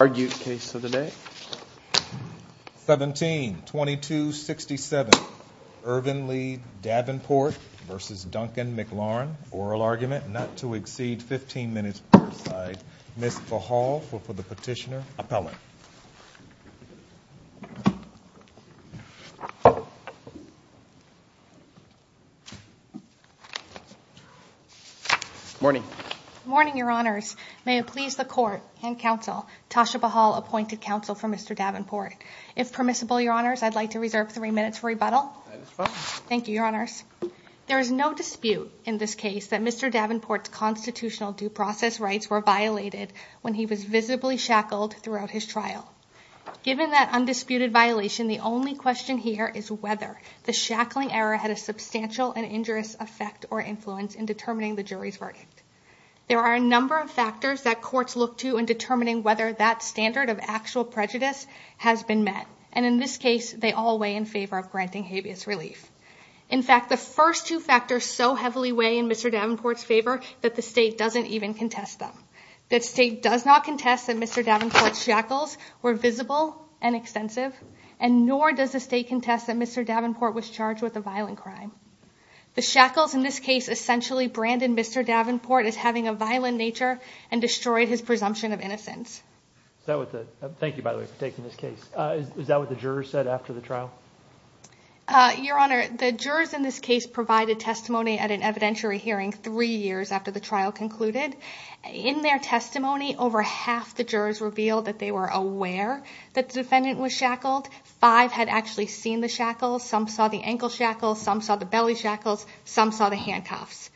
oral argument not to exceed 15 minutes per side. Ms. Pahal for the petitioner, appellant. Morning. Morning, Your Honors. May it please the court and counsel, Tasha Pahal, appointed counsel for Mr. Davenport. If permissible, Your Honors, I'd like to reserve three minutes for rebuttal. Thank you, Your Honors. There is no dispute in this case that Mr. Davenport's constitutional due process rights were violated when he was visibly shackled throughout his trial. Given that undisputed violation, the only question here is whether the shackling error had a substantial and injurious effect or influence in determining the jury's verdict. There are a number of factors that courts look to in determining whether that standard of actual prejudice has been met. And in this case, they all weigh in favor of granting habeas relief. In fact, the first two factors so heavily weigh in Mr. Davenport's favor that the state doesn't even contest them. The state does not contest that Mr. Davenport's shackles were visible and extensive, and nor does the state contest that Mr. Davenport was charged with a violent crime. The shackles in this case essentially branded Mr. Davenport as having a violent nature and destroyed his presumption of innocence. Thank you, by the way, for taking this case. Is that what the jurors said after the trial? Your Honor, the jurors in this case provided testimony at an evidentiary hearing three years after the trial concluded. In their testimony, over half the jurors revealed that they were aware that the defendant was shackled. Five had actually seen the shackles. Some saw the ankle shackles. Some saw the belly shackles. Some saw the handcuffs.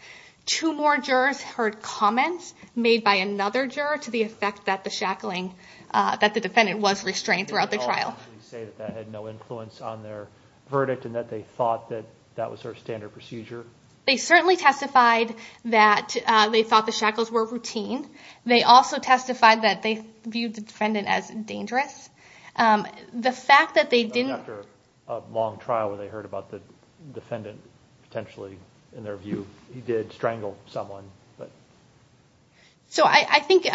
Two more jurors heard comments made by another juror to the effect that the shackling, that the defendant was restrained throughout the trial. So you can say that that had no influence on their verdict and that they thought that that was their standard procedure? They certainly testified that they thought the shackles were routine. They also testified that they viewed the defendant as dangerous. The fact that they didn't... After a long trial, when they heard about the defendant, potentially, in their view, he did strangle someone. So I think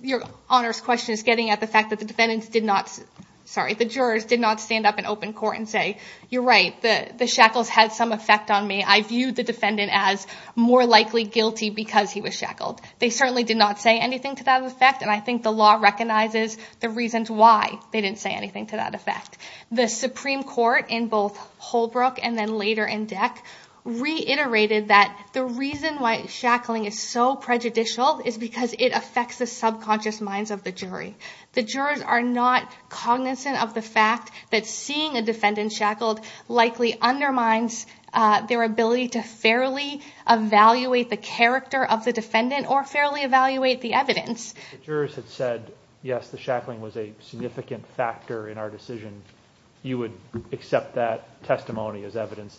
your Honor's question is getting at the fact that the jurors did not stand up in open court and say, you're right, the shackles had some effect on me. I viewed the defendant as more likely guilty because he was shackled. They certainly did not say anything to that effect. And I think the law recognizes the reasons why they didn't say anything to that effect. The Supreme Court, in both Holbrook and then later in DEC, reiterated that the reason why shackling is so prejudicial is because it affects the subconscious minds of the jury. The jurors are not cognizant of the fact that seeing a defendant shackled likely undermines their ability to fairly evaluate the character of the defendant or fairly evaluate the evidence. If the jurors had said, yes, the shackling was a significant factor in our decision, you would accept that testimony as evidence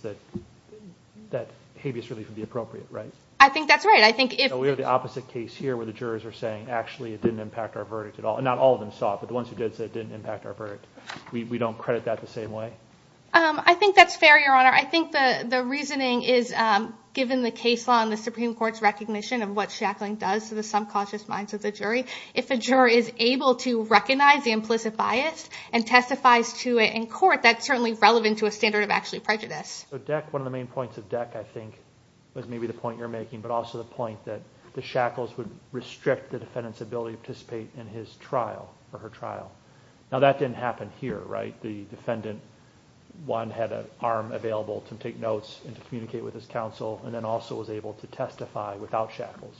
that habeas relief would be appropriate, right? I think that's right. I think if... So we have the opposite case here where the jurors are saying, actually, it didn't impact our verdict at all. And not all of them saw it, but the ones who did say it didn't impact our verdict. We don't credit that the same way? I think that's fair, Your Honor. I think the reasoning is, given the case law and the Supreme Court's recognition of what shackling does to the subconscious minds of the jury, if a juror is able to recognize the implicit bias and testifies to it in court, that's certainly relevant to a standard of actually prejudice. So DEC, one of the main points of DEC, I think, was maybe the point you're making, but also the point that the shackles would restrict the defendant's ability to participate in his trial or her trial. Now, that didn't happen here, right? The defendant, one, had an arm available to take notes and to communicate with his counsel, and then also was able to testify without shackles.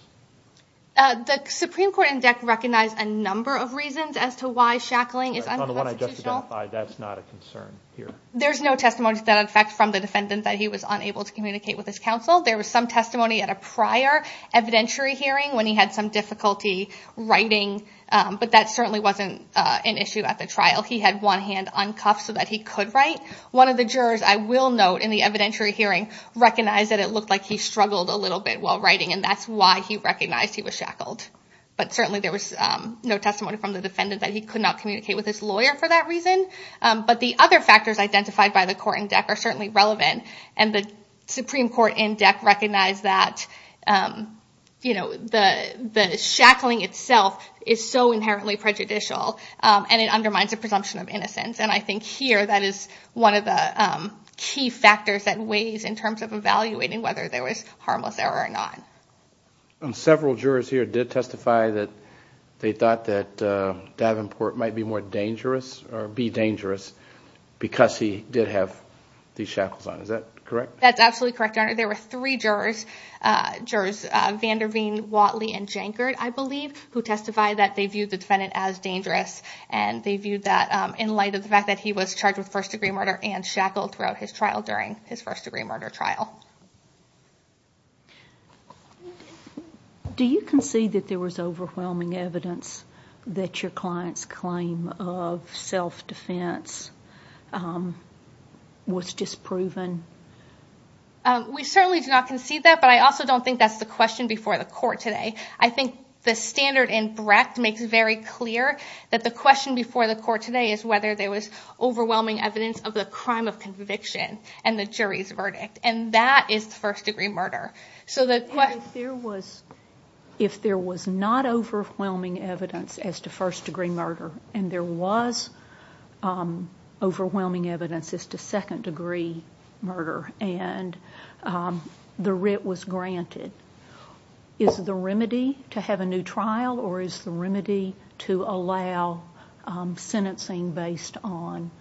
The Supreme Court in DEC recognized a number of reasons as to why shackling is unconstitutional. On the one I just identified, that's not a concern here. There's no testimony to that effect from the defendant that he was unable to communicate with his counsel. There was some testimony at a prior evidentiary hearing when he had some difficulty writing, but that certainly wasn't an issue at the trial. He had one hand uncuffed so that he could write. One of the jurors, I will note, in the evidentiary hearing recognized that it looked like he struggled a little bit while writing, and that's why he recognized he was shackled. But certainly there was no testimony from the defendant that he could not communicate with his lawyer for that reason. But the other factors identified by the court in DEC are certainly relevant. And the Supreme Court in DEC recognized that the shackling itself is so inherently prejudicial, and it undermines the presumption of innocence. And I think here that is one of the key factors that weighs in terms of evaluating whether there was harmless error or not. And several jurors here did testify that they thought that Davenport might be more dangerous, or be dangerous, because he did have these shackles on. Is that correct? That's absolutely correct, Your Honor. There were three jurors, Vanderveen, Watley, and Jankard, I believe, who testified that they viewed the defendant as dangerous. And they viewed that in light of the fact that he was charged with first-degree murder and shackled throughout his trial during his first-degree murder trial. Do you concede that there was overwhelming evidence that your client's claim of self-defense was disproven? We certainly do not concede that, but I also don't think that's the question before the court today. I think the standard in Brecht makes it very clear that the question before the court today is whether there was overwhelming evidence of the crime of conviction and the jury's verdict. And that is first-degree murder. If there was not overwhelming evidence as to first-degree murder, and there was overwhelming evidence as to second-degree murder, and the writ was granted, is the remedy to have a new trial, or is the remedy to allow sentencing based on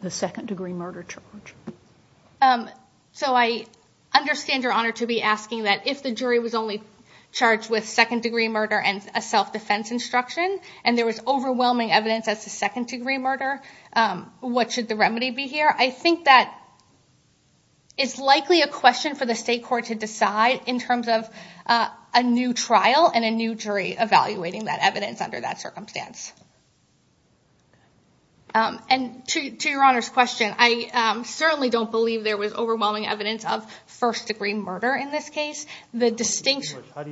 the second-degree murder charge? So I understand your honor to be asking that if the jury was only charged with second-degree murder and a self-defense instruction, and there was overwhelming evidence as to second-degree murder, what should the remedy be here? I think that it's likely a question for the state court to decide in terms of a new trial and a new jury evaluating that evidence under that circumstance. And to your honor's question, I certainly don't believe there was overwhelming evidence of first-degree murder in this case. How do you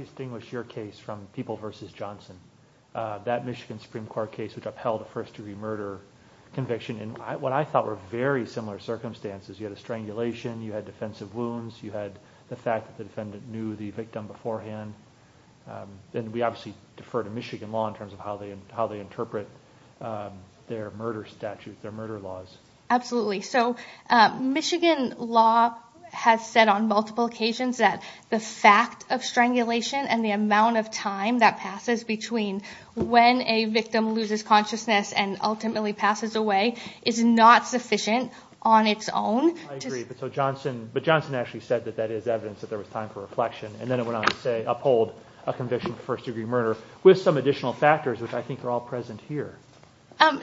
distinguish your case from People v. Johnson? That Michigan Supreme Court case which upheld a first-degree murder conviction in what I thought were very similar circumstances. You had a strangulation, you had defensive wounds, you had the fact that the defendant knew the victim beforehand. And we obviously defer to Michigan law in terms of how they interpret their murder statute, their murder laws. Absolutely. So Michigan law has said on multiple occasions that the fact of strangulation and the amount of time that passes between when a victim loses consciousness and ultimately passes away is not sufficient on its own. I agree, but Johnson actually said that that is evidence that there was time for reflection, and then it went on to say uphold a conviction for first-degree murder with some additional factors which I think are all present here.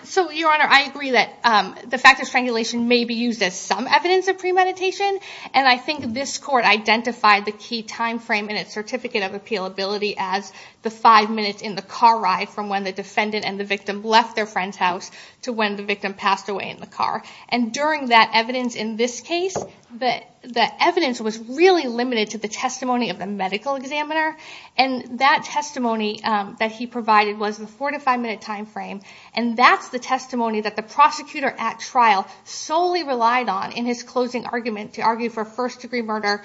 So your honor, I agree that the fact of strangulation may be used as some evidence of premeditation, and I think this court identified the key time frame in its certificate of appealability as the five minutes in the car ride from when the defendant and the victim left their friend's house to when the victim passed away in the car. And during that evidence in this case, the evidence was really limited to the testimony of the medical examiner, and that testimony that he provided was the four to five minute time frame, and that's the testimony that the prosecutor at trial solely relied on in his closing argument to argue for first-degree murder,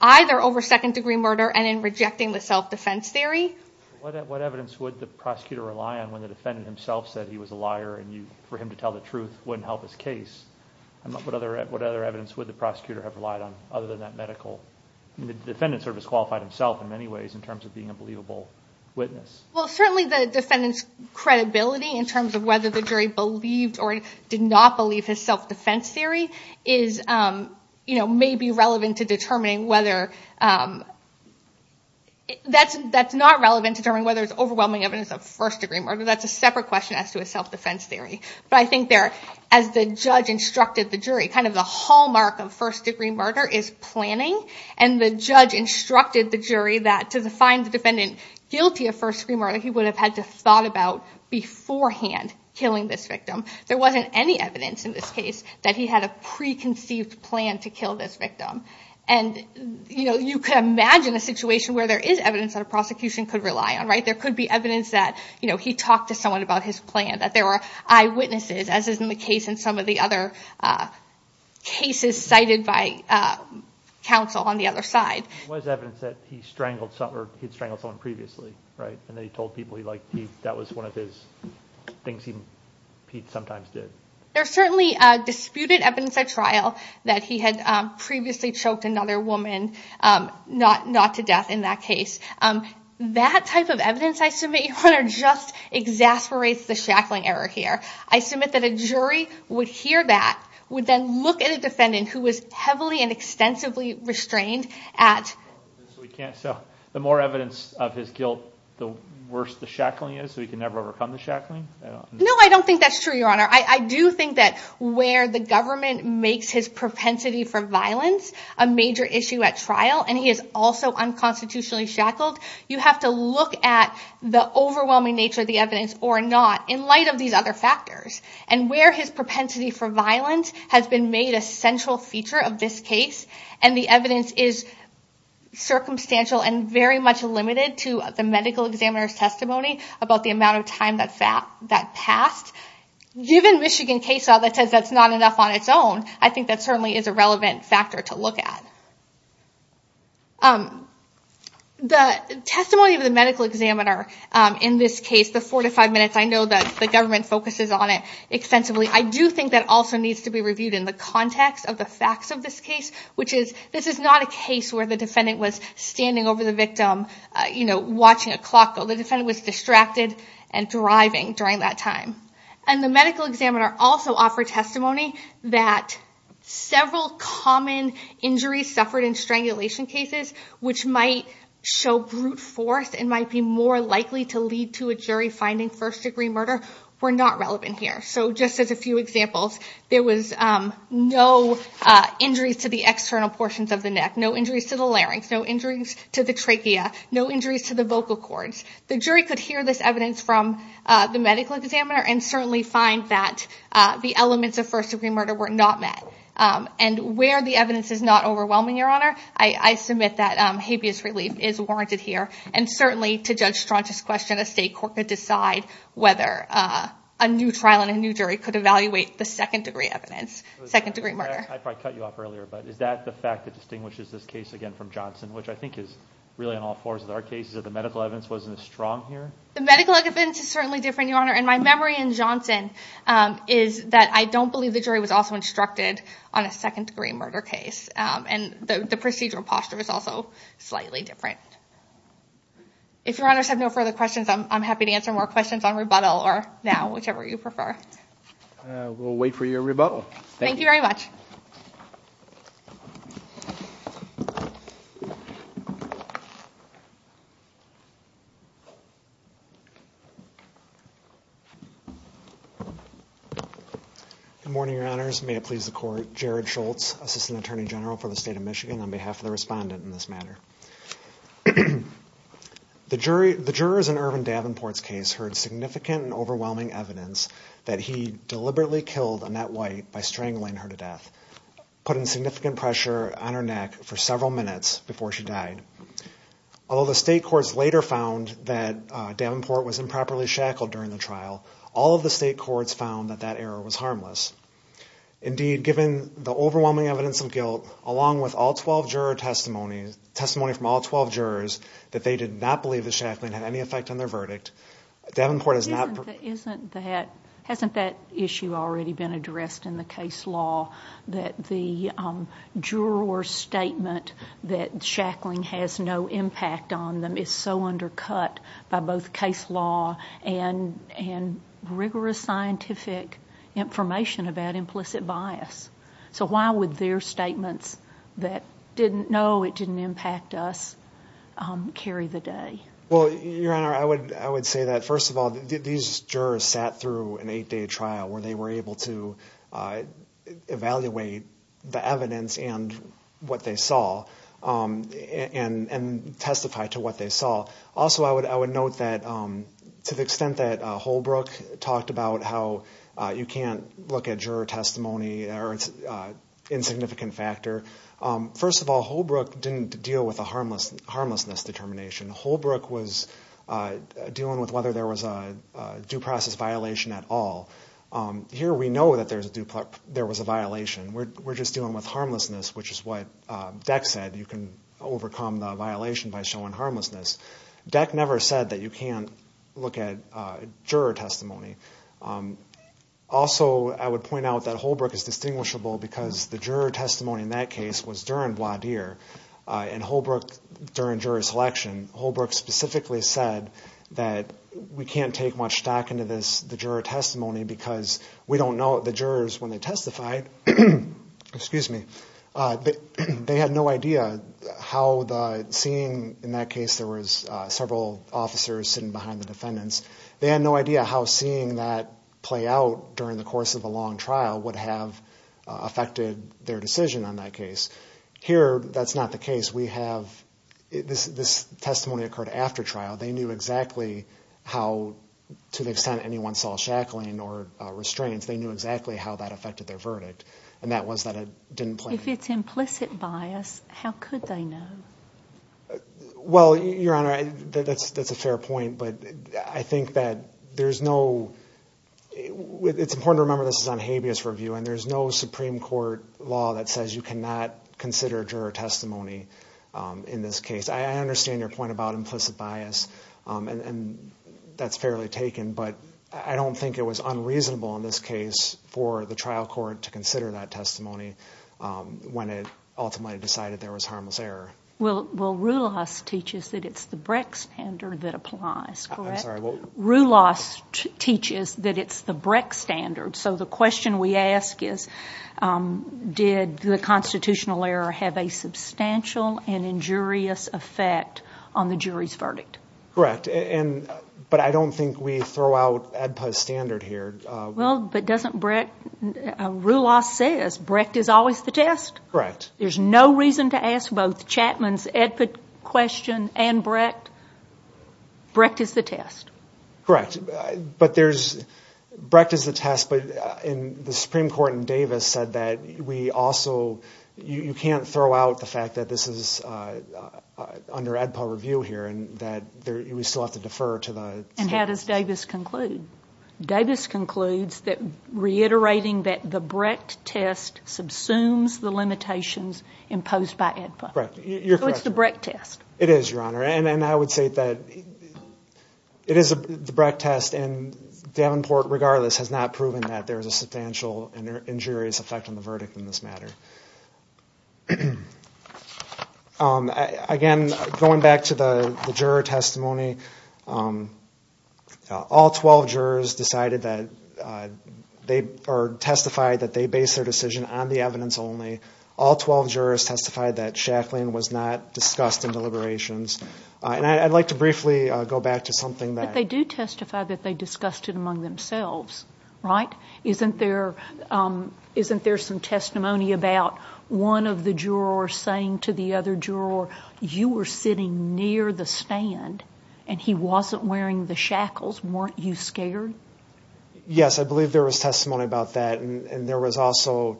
either over second-degree murder and in rejecting the self-defense theory. What evidence would the prosecutor rely on when the defendant himself said he was a liar and for him to tell the truth wouldn't help his case? What other evidence would the prosecutor have relied on other than that medical? The defendant sort of has qualified himself in many ways in terms of being a believable witness. Well, certainly the defendant's credibility in terms of whether the jury believed or did not believe his self-defense theory may be relevant to determining whether – that's not relevant to determining whether it's overwhelming evidence of first-degree murder. That's a separate question as to his self-defense theory. But I think there, as the judge instructed the jury, kind of the hallmark of first-degree murder is planning, and the judge instructed the jury that to find the defendant guilty of first-degree murder, he would have had to have thought about beforehand killing this victim. There wasn't any evidence in this case that he had a preconceived plan to kill this victim. And you could imagine a situation where there is evidence that a prosecution could rely on. There could be evidence that he talked to someone about his plan, that there were eyewitnesses, as is the case in some of the other cases cited by counsel on the other side. There was evidence that he had strangled someone previously, right? And that he told people that was one of the things he sometimes did. There's certainly disputed evidence at trial that he had previously choked another woman, not to death in that case. That type of evidence, I submit, just exasperates the shackling error here. I submit that a jury would hear that, would then look at a defendant who was heavily and extensively restrained at trial. So the more evidence of his guilt, the worse the shackling is? So he can never overcome the shackling? No, I don't think that's true, Your Honor. I do think that where the government makes his propensity for violence a major issue at trial, and he is also unconstitutionally shackled, you have to look at the overwhelming nature of the evidence or not in light of these other factors. And where his propensity for violence has been made a central feature of this case, and the evidence is circumstantial and very much limited to the medical examiner's testimony about the amount of time that passed, given Michigan case law that says that's not enough on its own, I think that certainly is a relevant factor to look at. The testimony of the medical examiner in this case, the four to five minutes, I know that the government focuses on it extensively. I do think that also needs to be reviewed in the context of the facts of this case, which is this is not a case where the defendant was standing over the victim watching a clock go. The defendant was distracted and driving during that time. And the medical examiner also offered testimony that several common injuries suffered in strangulation cases which might show brute force and might be more likely to lead to a jury finding first-degree murder were not relevant here. So just as a few examples, there was no injuries to the external portions of the neck, no injuries to the larynx, no injuries to the trachea, no injuries to the vocal cords. The jury could hear this evidence from the medical examiner and certainly find that the elements of first-degree murder were not met. And where the evidence is not overwhelming, Your Honor, I submit that habeas relief is warranted here. And certainly to Judge Strachan's question, a state court could decide whether a new trial and a new jury could evaluate the second-degree evidence, second-degree murder. I probably cut you off earlier, but is that the fact that distinguishes this case again from Johnson, which I think is really on all fours of our cases, that the medical evidence wasn't as strong here? The medical evidence is certainly different, Your Honor. And my memory in Johnson is that I don't believe the jury was also instructed on a second-degree murder case. And the procedural posture is also slightly different. If Your Honors have no further questions, I'm happy to answer more questions on rebuttal or now, whichever you prefer. We'll wait for your rebuttal. Thank you very much. Good morning, Your Honors. May it please the Court, Jared Schultz, Assistant Attorney General for the State of Michigan, on behalf of the respondent in this matter. The jurors in Irvin Davenport's case heard significant and overwhelming evidence that he deliberately killed Annette White by strangling her to death, putting significant pressure on her neck for several minutes before she died. Although the state courts later found that Davenport was improperly shackled during the trial, all of the state courts found that that error was harmless. Indeed, given the overwhelming evidence of guilt, along with all 12 juror testimonies, testimony from all 12 jurors, that they did not believe that shackling had any effect on their verdict, Davenport has not... Hasn't that issue already been addressed in the case law, that the juror's statement that shackling has no impact on them is so undercut by both case law and rigorous scientific information about implicit bias? So why would their statements that didn't know it didn't impact us carry the day? Well, Your Honor, I would say that, first of all, these jurors sat through an eight-day trial where they were able to evaluate the evidence and what they saw and testify to what they saw. Also, I would note that to the extent that Holbrook talked about how you can't look at juror testimony or its insignificant factor, first of all, Holbrook didn't deal with a harmlessness determination. Holbrook was dealing with whether there was a due process violation at all. Here we know that there was a violation. We're just dealing with harmlessness, which is what Deck said. You can overcome the violation by showing harmlessness. Deck never said that you can't look at juror testimony. Also, I would point out that Holbrook is distinguishable because the juror testimony in that case was during voir dire, and Holbrook, during juror selection, Holbrook specifically said that we can't take much stock into the juror testimony because we don't know what the jurors, when they testified, they had no idea how the seeing, in that case there was several officers sitting behind the defendants, they had no idea how seeing that play out during the course of a long trial would have affected their decision on that case. Here, that's not the case. We have, this testimony occurred after trial. They knew exactly how, to the extent anyone saw shackling or restraints, they knew exactly how that affected their verdict, and that was that it didn't play. If it's implicit bias, how could they know? Well, Your Honor, that's a fair point, but I think that there's no, it's important to remember this is on habeas review, and there's no Supreme Court law that says you cannot consider juror testimony in this case. I understand your point about implicit bias, and that's fairly taken, but I don't think it was unreasonable in this case for the trial court to consider that testimony when it ultimately decided there was harmless error. Well, Roulas teaches that it's the Brecht standard that applies, correct? I'm sorry, what? Roulas teaches that it's the Brecht standard, so the question we ask is did the constitutional error have a substantial and injurious effect on the jury's verdict? Correct, but I don't think we throw out AEDPA's standard here. Well, but doesn't Brecht, Roulas says Brecht is always the test. Correct. There's no reason to ask both Chapman's AEDPA question and Brecht. Brecht is the test. Correct, but there's, Brecht is the test, but the Supreme Court in Davis said that we also, you can't throw out the fact that this is under AEDPA review here and that we still have to defer to the standards. And how does Davis conclude? Davis concludes that reiterating that the Brecht test subsumes the limitations imposed by AEDPA. Correct, you're correct. So it's the Brecht test. It is, Your Honor, and I would say that it is the Brecht test, and Davenport, regardless, has not proven that there is a substantial and injurious effect on the verdict in this matter. Again, going back to the juror testimony, all 12 jurors decided that they, or testified that they based their decision on the evidence only. All 12 jurors testified that shackling was not discussed in deliberations. And I'd like to briefly go back to something that. But they do testify that they discussed it among themselves, right? Isn't there some testimony about one of the jurors saying to the other juror, you were sitting near the stand and he wasn't wearing the shackles? Weren't you scared? Yes, I believe there was testimony about that, and there was also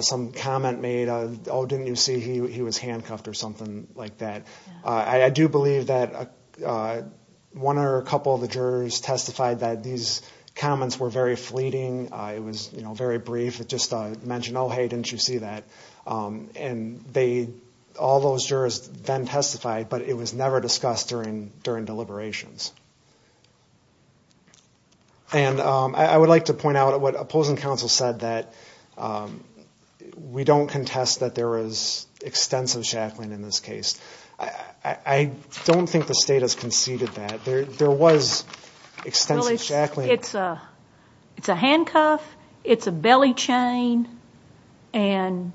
some comment made, oh, didn't you see he was handcuffed or something like that. I do believe that one or a couple of the jurors testified that these comments were very fleeting. It was very brief. It just mentioned, oh, hey, didn't you see that? And all those jurors then testified, but it was never discussed during deliberations. And I would like to point out what opposing counsel said, that we don't contest that there is extensive shackling in this case. I don't think the state has conceded that. There was extensive shackling. It's a handcuff. It's a belly chain and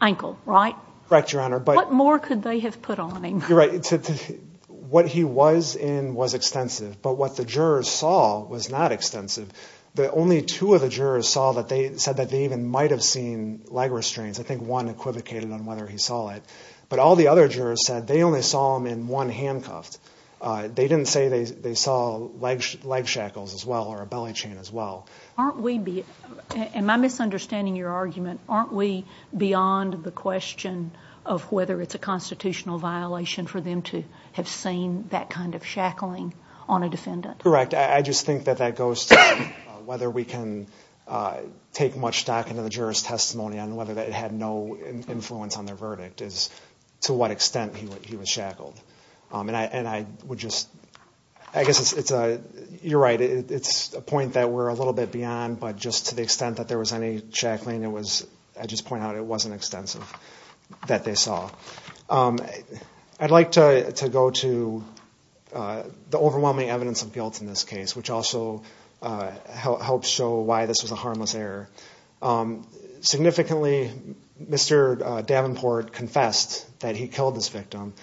ankle, right? Correct, Your Honor. What more could they have put on him? You're right. What he was in was extensive, but what the jurors saw was not extensive. Only two of the jurors said that they even might have seen leg restraints. I think one equivocated on whether he saw it. But all the other jurors said they only saw him in one handcuff. They didn't say they saw leg shackles as well or a belly chain as well. Am I misunderstanding your argument? Aren't we beyond the question of whether it's a constitutional violation for them to have seen that kind of shackling on a defendant? Correct. I just think that that goes to whether we can take much stock into the jurors' testimony on whether it had no influence on their verdict is to what extent he was shackled. And I would just, I guess it's a, you're right, it's a point that we're a little bit beyond, but just to the extent that there was any shackling, it was, I just point out, it wasn't extensive that they saw. I'd like to go to the overwhelming evidence of guilt in this case, which also helps show why this was a harmless error. Significantly, Mr. Davenport confessed that he killed this victim,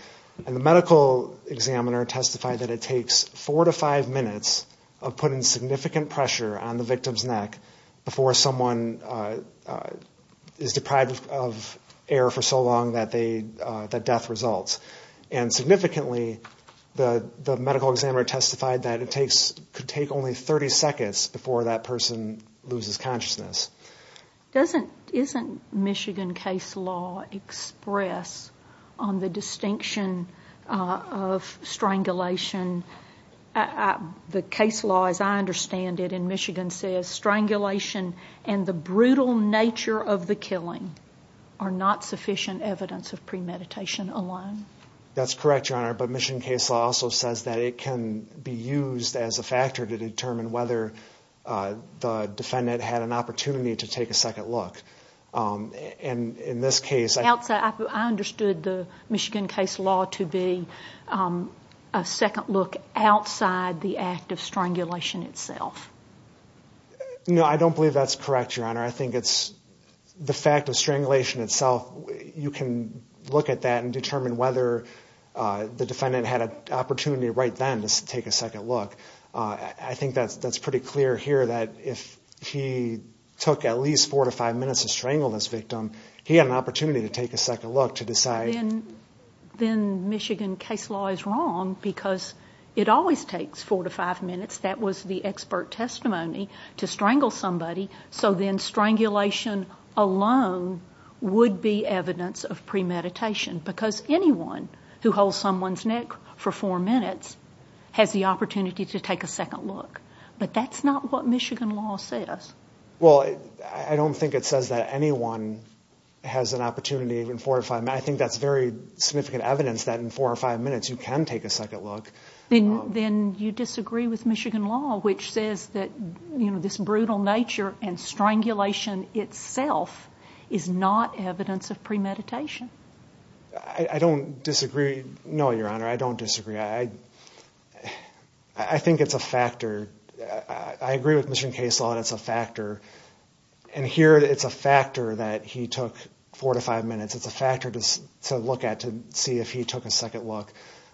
and the medical examiner testified that it takes four to five minutes of putting significant pressure on the victim's neck before someone is deprived of air for so long that death results. And significantly, the medical examiner testified that it could take only 30 seconds before that person loses consciousness. Doesn't, isn't Michigan case law express on the distinction of strangulation? The case law, as I understand it in Michigan, says strangulation and the brutal nature of the killing are not sufficient evidence of premeditation alone. That's correct, Your Honor, but Michigan case law also says that it can be used as a factor to determine whether the defendant had an opportunity to take a second look. And in this case, I think- I understood the Michigan case law to be a second look outside the act of strangulation itself. No, I don't believe that's correct, Your Honor. I think it's the fact of strangulation itself, you can look at that and determine whether the defendant had an opportunity right then to take a second look. I think that's pretty clear here that if he took at least four to five minutes to strangle this victim, he had an opportunity to take a second look to decide- Then Michigan case law is wrong because it always takes four to five minutes. That was the expert testimony, to strangle somebody. So then strangulation alone would be evidence of premeditation because anyone who holds someone's neck for four minutes has the opportunity to take a second look. But that's not what Michigan law says. Well, I don't think it says that anyone has an opportunity in four or five minutes. I think that's very significant evidence that in four or five minutes you can take a second look. Then you disagree with Michigan law, which says that this brutal nature and strangulation itself is not evidence of premeditation. I don't disagree. No, Your Honor, I don't disagree. I think it's a factor. I agree with Michigan case law that it's a factor. And here it's a factor that he took four to five minutes. It's a factor to look at to see if he took a second look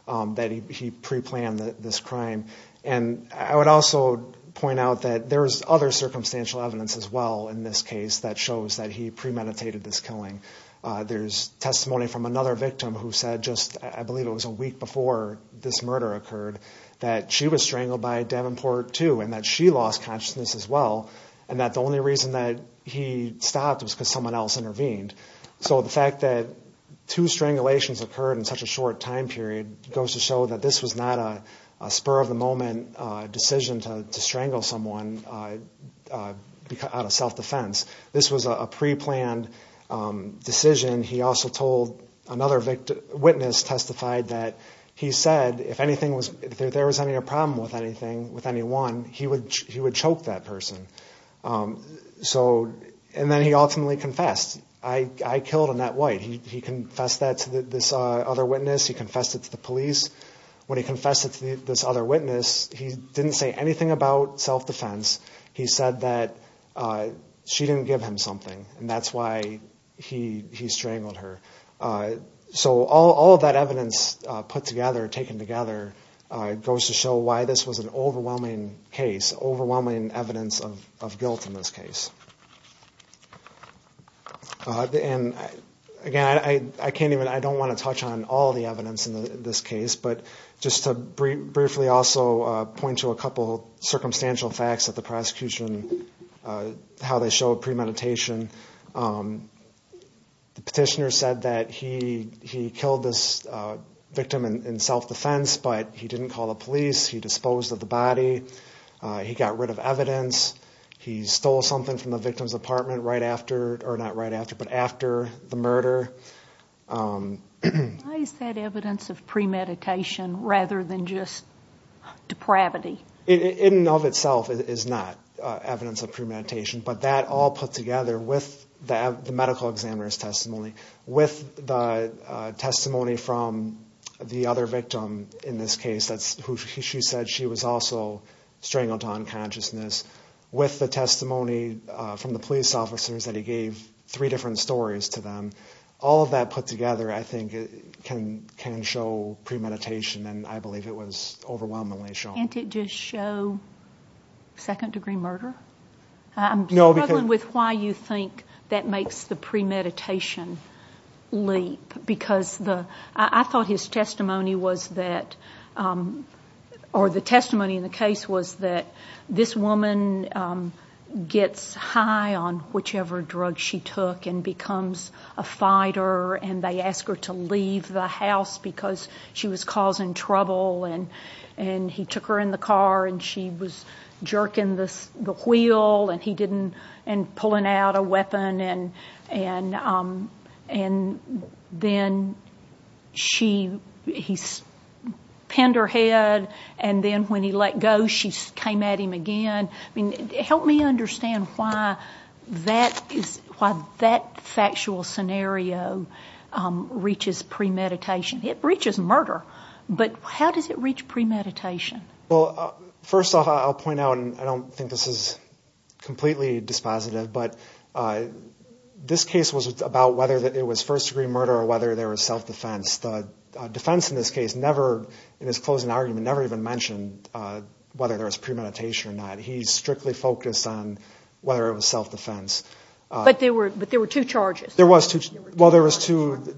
that he preplanned this crime. And I would also point out that there's other circumstantial evidence as well in this case that shows that he premeditated this killing. There's testimony from another victim who said just, I believe it was a week before this murder occurred, that she was strangled by Davenport too and that she lost consciousness as well and that the only reason that he stopped was because someone else intervened. So the fact that two strangulations occurred in such a short time period goes to show that this was not a spur-of-the-moment decision to strangle someone out of self-defense. This was a preplanned decision. He also told another witness testified that he said if there was any problem with anyone, he would choke that person. And then he ultimately confessed. I killed Annette White. He confessed that to this other witness. He confessed it to the police. When he confessed it to this other witness, he didn't say anything about self-defense. He said that she didn't give him something and that's why he strangled her. So all of that evidence put together, taken together, goes to show why this was an overwhelming case, overwhelming evidence of guilt in this case. Again, I don't want to touch on all the evidence in this case, but just to briefly also point to a couple of circumstantial facts of the prosecution, how they show premeditation. The petitioner said that he killed this victim in self-defense, but he didn't call the police. He disposed of the body. He got rid of evidence. He stole something from the victim's apartment right after, or not right after, but after the murder. Why is that evidence of premeditation rather than just depravity? It in and of itself is not evidence of premeditation, but that all put together with the medical examiner's testimony, with the testimony from the other victim in this case, who she said she was also strangled to unconsciousness, with the testimony from the police officers that he gave three different stories to them, all of that put together I think can show premeditation, and I believe it was overwhelmingly shown. Can't it just show second-degree murder? I'm struggling with why you think that makes the premeditation leap, because I thought his testimony was that, or the testimony in the case was that, this woman gets high on whichever drug she took and becomes a fighter, and they ask her to leave the house because she was causing trouble, and he took her in the car and she was jerking the wheel and pulling out a weapon, and then he pinned her head, and then when he let go she came at him again. Help me understand why that factual scenario reaches premeditation. It reaches murder, but how does it reach premeditation? Well, first off, I'll point out, and I don't think this is completely dispositive, but this case was about whether it was first-degree murder or whether there was self-defense. The defense in this case never, in his closing argument, never even mentioned whether there was premeditation or not. He strictly focused on whether it was self-defense. But there were two charges. Well, there was two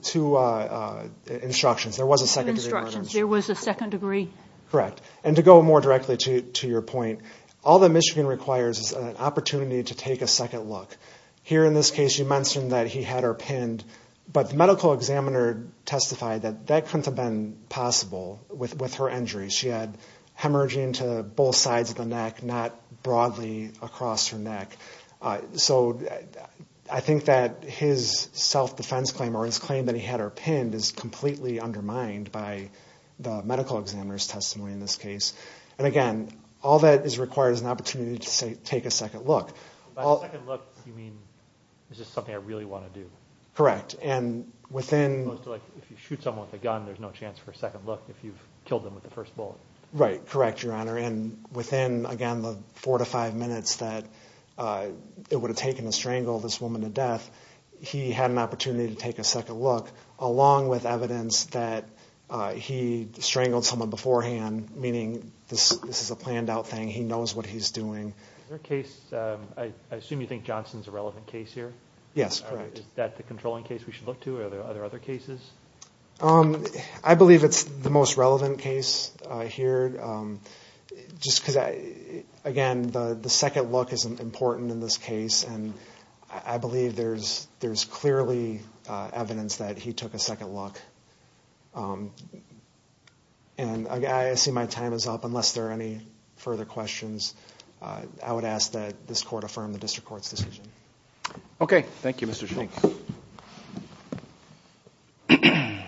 instructions. There was a second-degree murder. There was a second-degree. Correct. And to go more directly to your point, all that Michigan requires is an opportunity to take a second look. Here in this case you mentioned that he had her pinned, but the medical examiner testified that that couldn't have been possible with her injury. She had hemorrhaging to both sides of the neck, not broadly across her neck. So I think that his self-defense claim, or his claim that he had her pinned, is completely undermined by the medical examiner's testimony in this case. And, again, all that requires is an opportunity to take a second look. By a second look, you mean, is this something I really want to do? Correct. And within – If you shoot someone with a gun, there's no chance for a second look if you've killed them with the first bullet. Right. Correct, Your Honor. And within, again, the four to five minutes that it would have taken to strangle this woman to death, he had an opportunity to take a second look, along with evidence that he strangled someone beforehand, meaning this is a planned-out thing, he knows what he's doing. Is there a case – I assume you think Johnson's a relevant case here? Yes, correct. Is that the controlling case we should look to? Are there other cases? I believe it's the most relevant case here. Just because, again, the second look is important in this case, and I believe there's clearly evidence that he took a second look. And I see my time is up. Unless there are any further questions, I would ask that this Court affirm the District Court's decision. Okay. Thank you, Mr. Shanks. Thank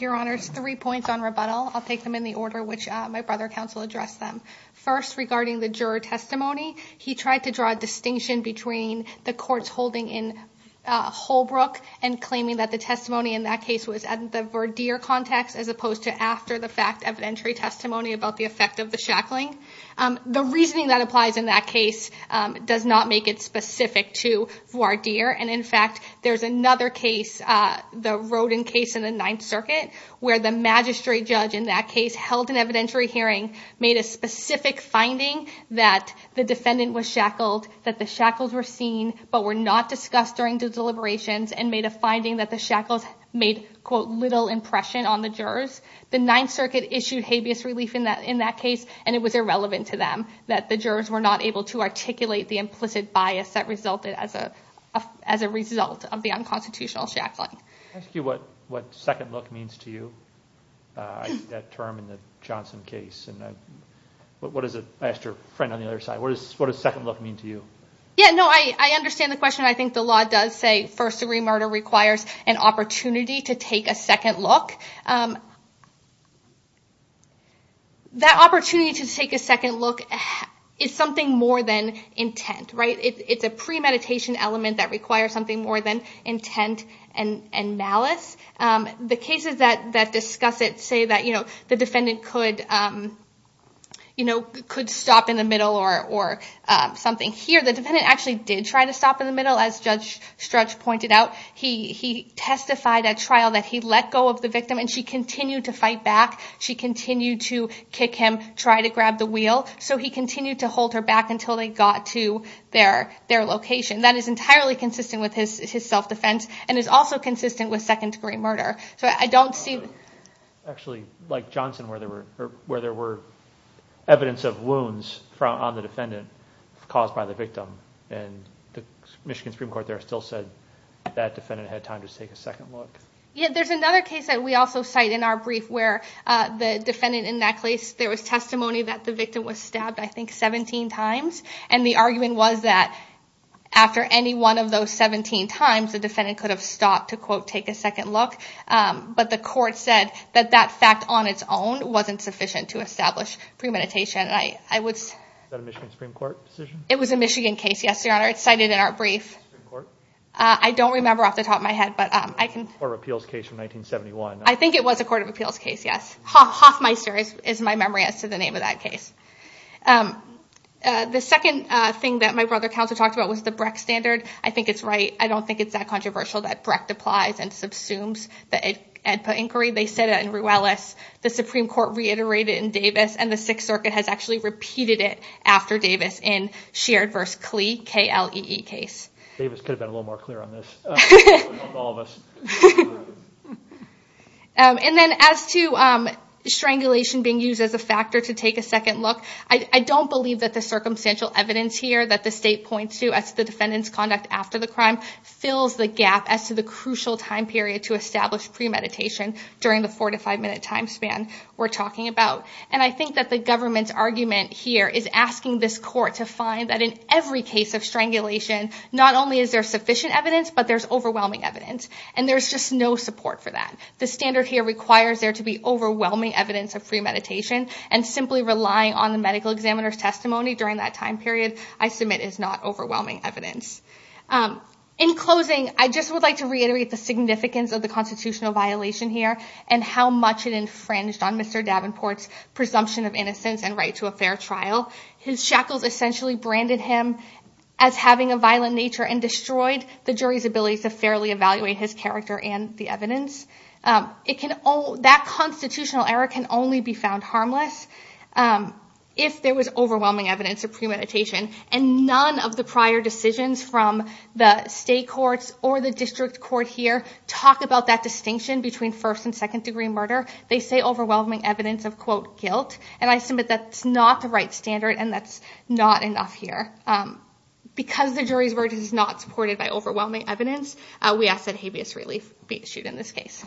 you, Your Honors. Three points on rebuttal. I'll take them in the order which my brother counsel addressed them. First, regarding the juror testimony, he tried to draw a distinction between the courts holding in Holbrook and claiming that the testimony in that case was at the Verdeer context as opposed to after the fact evidentiary testimony about the effect of the shackling. The reasoning that applies in that case does not make it specific to Verdeer. And, in fact, there's another case, the Rodin case in the Ninth Circuit, where the magistrate judge in that case held an evidentiary hearing, made a specific finding that the defendant was shackled, that the shackles were seen, but were not discussed during the deliberations, and made a finding that the shackles made, quote, little impression on the jurors. The Ninth Circuit issued habeas relief in that case, and it was irrelevant to them, that the jurors were not able to articulate the implicit bias that resulted as a result of the unconstitutional shackling. Can I ask you what second look means to you? I see that term in the Johnson case, and I asked your friend on the other side. What does second look mean to you? Yeah, no, I understand the question. I think the law does say first-degree murder requires an opportunity to take a second look. That opportunity to take a second look is something more than intent, right? It's a premeditation element that requires something more than intent and malice. The cases that discuss it say that the defendant could stop in the middle or something. Here, the defendant actually did try to stop in the middle, as Judge Stretch pointed out. He testified at trial that he let go of the victim, and she continued to fight back. She continued to kick him, try to grab the wheel. So he continued to hold her back until they got to their location. That is entirely consistent with his self-defense and is also consistent with second-degree murder. Actually, like Johnson, where there were evidence of wounds on the defendant caused by the victim, and the Michigan Supreme Court there still said that defendant had time to take a second look. Yeah, there's another case that we also cite in our brief where the defendant in that case, there was testimony that the victim was stabbed, I think, 17 times, and the argument was that after any one of those 17 times, the defendant could have stopped to, quote, take a second look. But the court said that that fact on its own wasn't sufficient to establish premeditation. Is that a Michigan Supreme Court decision? It was a Michigan case, yes, Your Honor. It's cited in our brief. Supreme Court? I don't remember off the top of my head. Court of Appeals case from 1971. I think it was a Court of Appeals case, yes. Hoffmeister is my memory as to the name of that case. The second thing that my brother counsel talked about was the Brecht Standard. I think it's right. I don't think it's that controversial that Brecht applies and subsumes the AEDPA inquiry. They said it in Ruelas. The Supreme Court reiterated it in Davis, and the Sixth Circuit has actually repeated it after Davis in Sheard v. Klee, K-L-E-E case. Davis could have been a little more clear on this. All of us. And then as to strangulation being used as a factor to take a second look, I don't believe that the circumstantial evidence here that the state points to as to the defendant's conduct after the crime fills the gap as to the crucial time period to establish premeditation during the four- to five-minute time span we're talking about. And I think that the government's argument here is asking this Court to find that in every case of strangulation, not only is there sufficient evidence, but there's overwhelming evidence. And there's just no support for that. The standard here requires there to be overwhelming evidence of premeditation, and simply relying on the medical examiner's testimony during that time period, I submit, is not overwhelming evidence. In closing, I just would like to reiterate the significance of the constitutional violation here, and how much it infringed on Mr. Davenport's presumption of innocence and right to a fair trial. His shackles essentially branded him as having a violent nature and destroyed the jury's ability to fairly evaluate his character and the evidence. That constitutional error can only be found harmless if there was overwhelming evidence of premeditation, and none of the prior decisions from the state courts or the district court here talk about that distinction between first- and second-degree murder. They say overwhelming evidence of, quote, guilt, and I submit that's not the right standard, and that's not enough here. Because the jury's word is not supported by overwhelming evidence, we ask that habeas relief be issued in this case.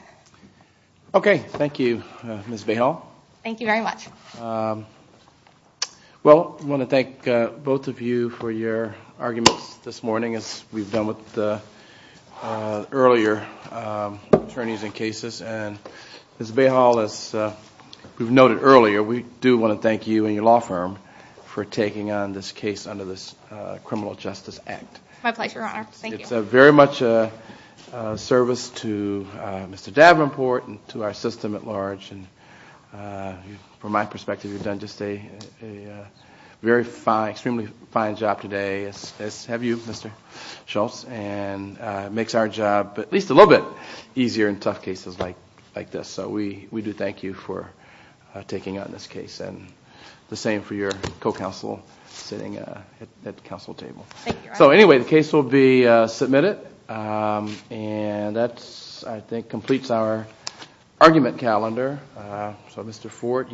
Okay, thank you, Ms. Vahal. Thank you very much. Well, I want to thank both of you for your arguments this morning, as we've done with the earlier attorneys in cases, and Ms. Vahal, as we've noted earlier, we do want to thank you and your law firm for taking on this case under this Criminal Justice Act. My pleasure, Your Honor. Thank you. It's very much a service to Mr. Davenport and to our system at large, and from my perspective, you've done just a very fine, extremely fine job today, as have you, Mr. Schultz, and it makes our job at least a little bit easier in tough cases like this. So we do thank you for taking on this case, and the same for your co-counsel sitting at the counsel table. So anyway, the case will be submitted, and that, I think, completes our argument calendar.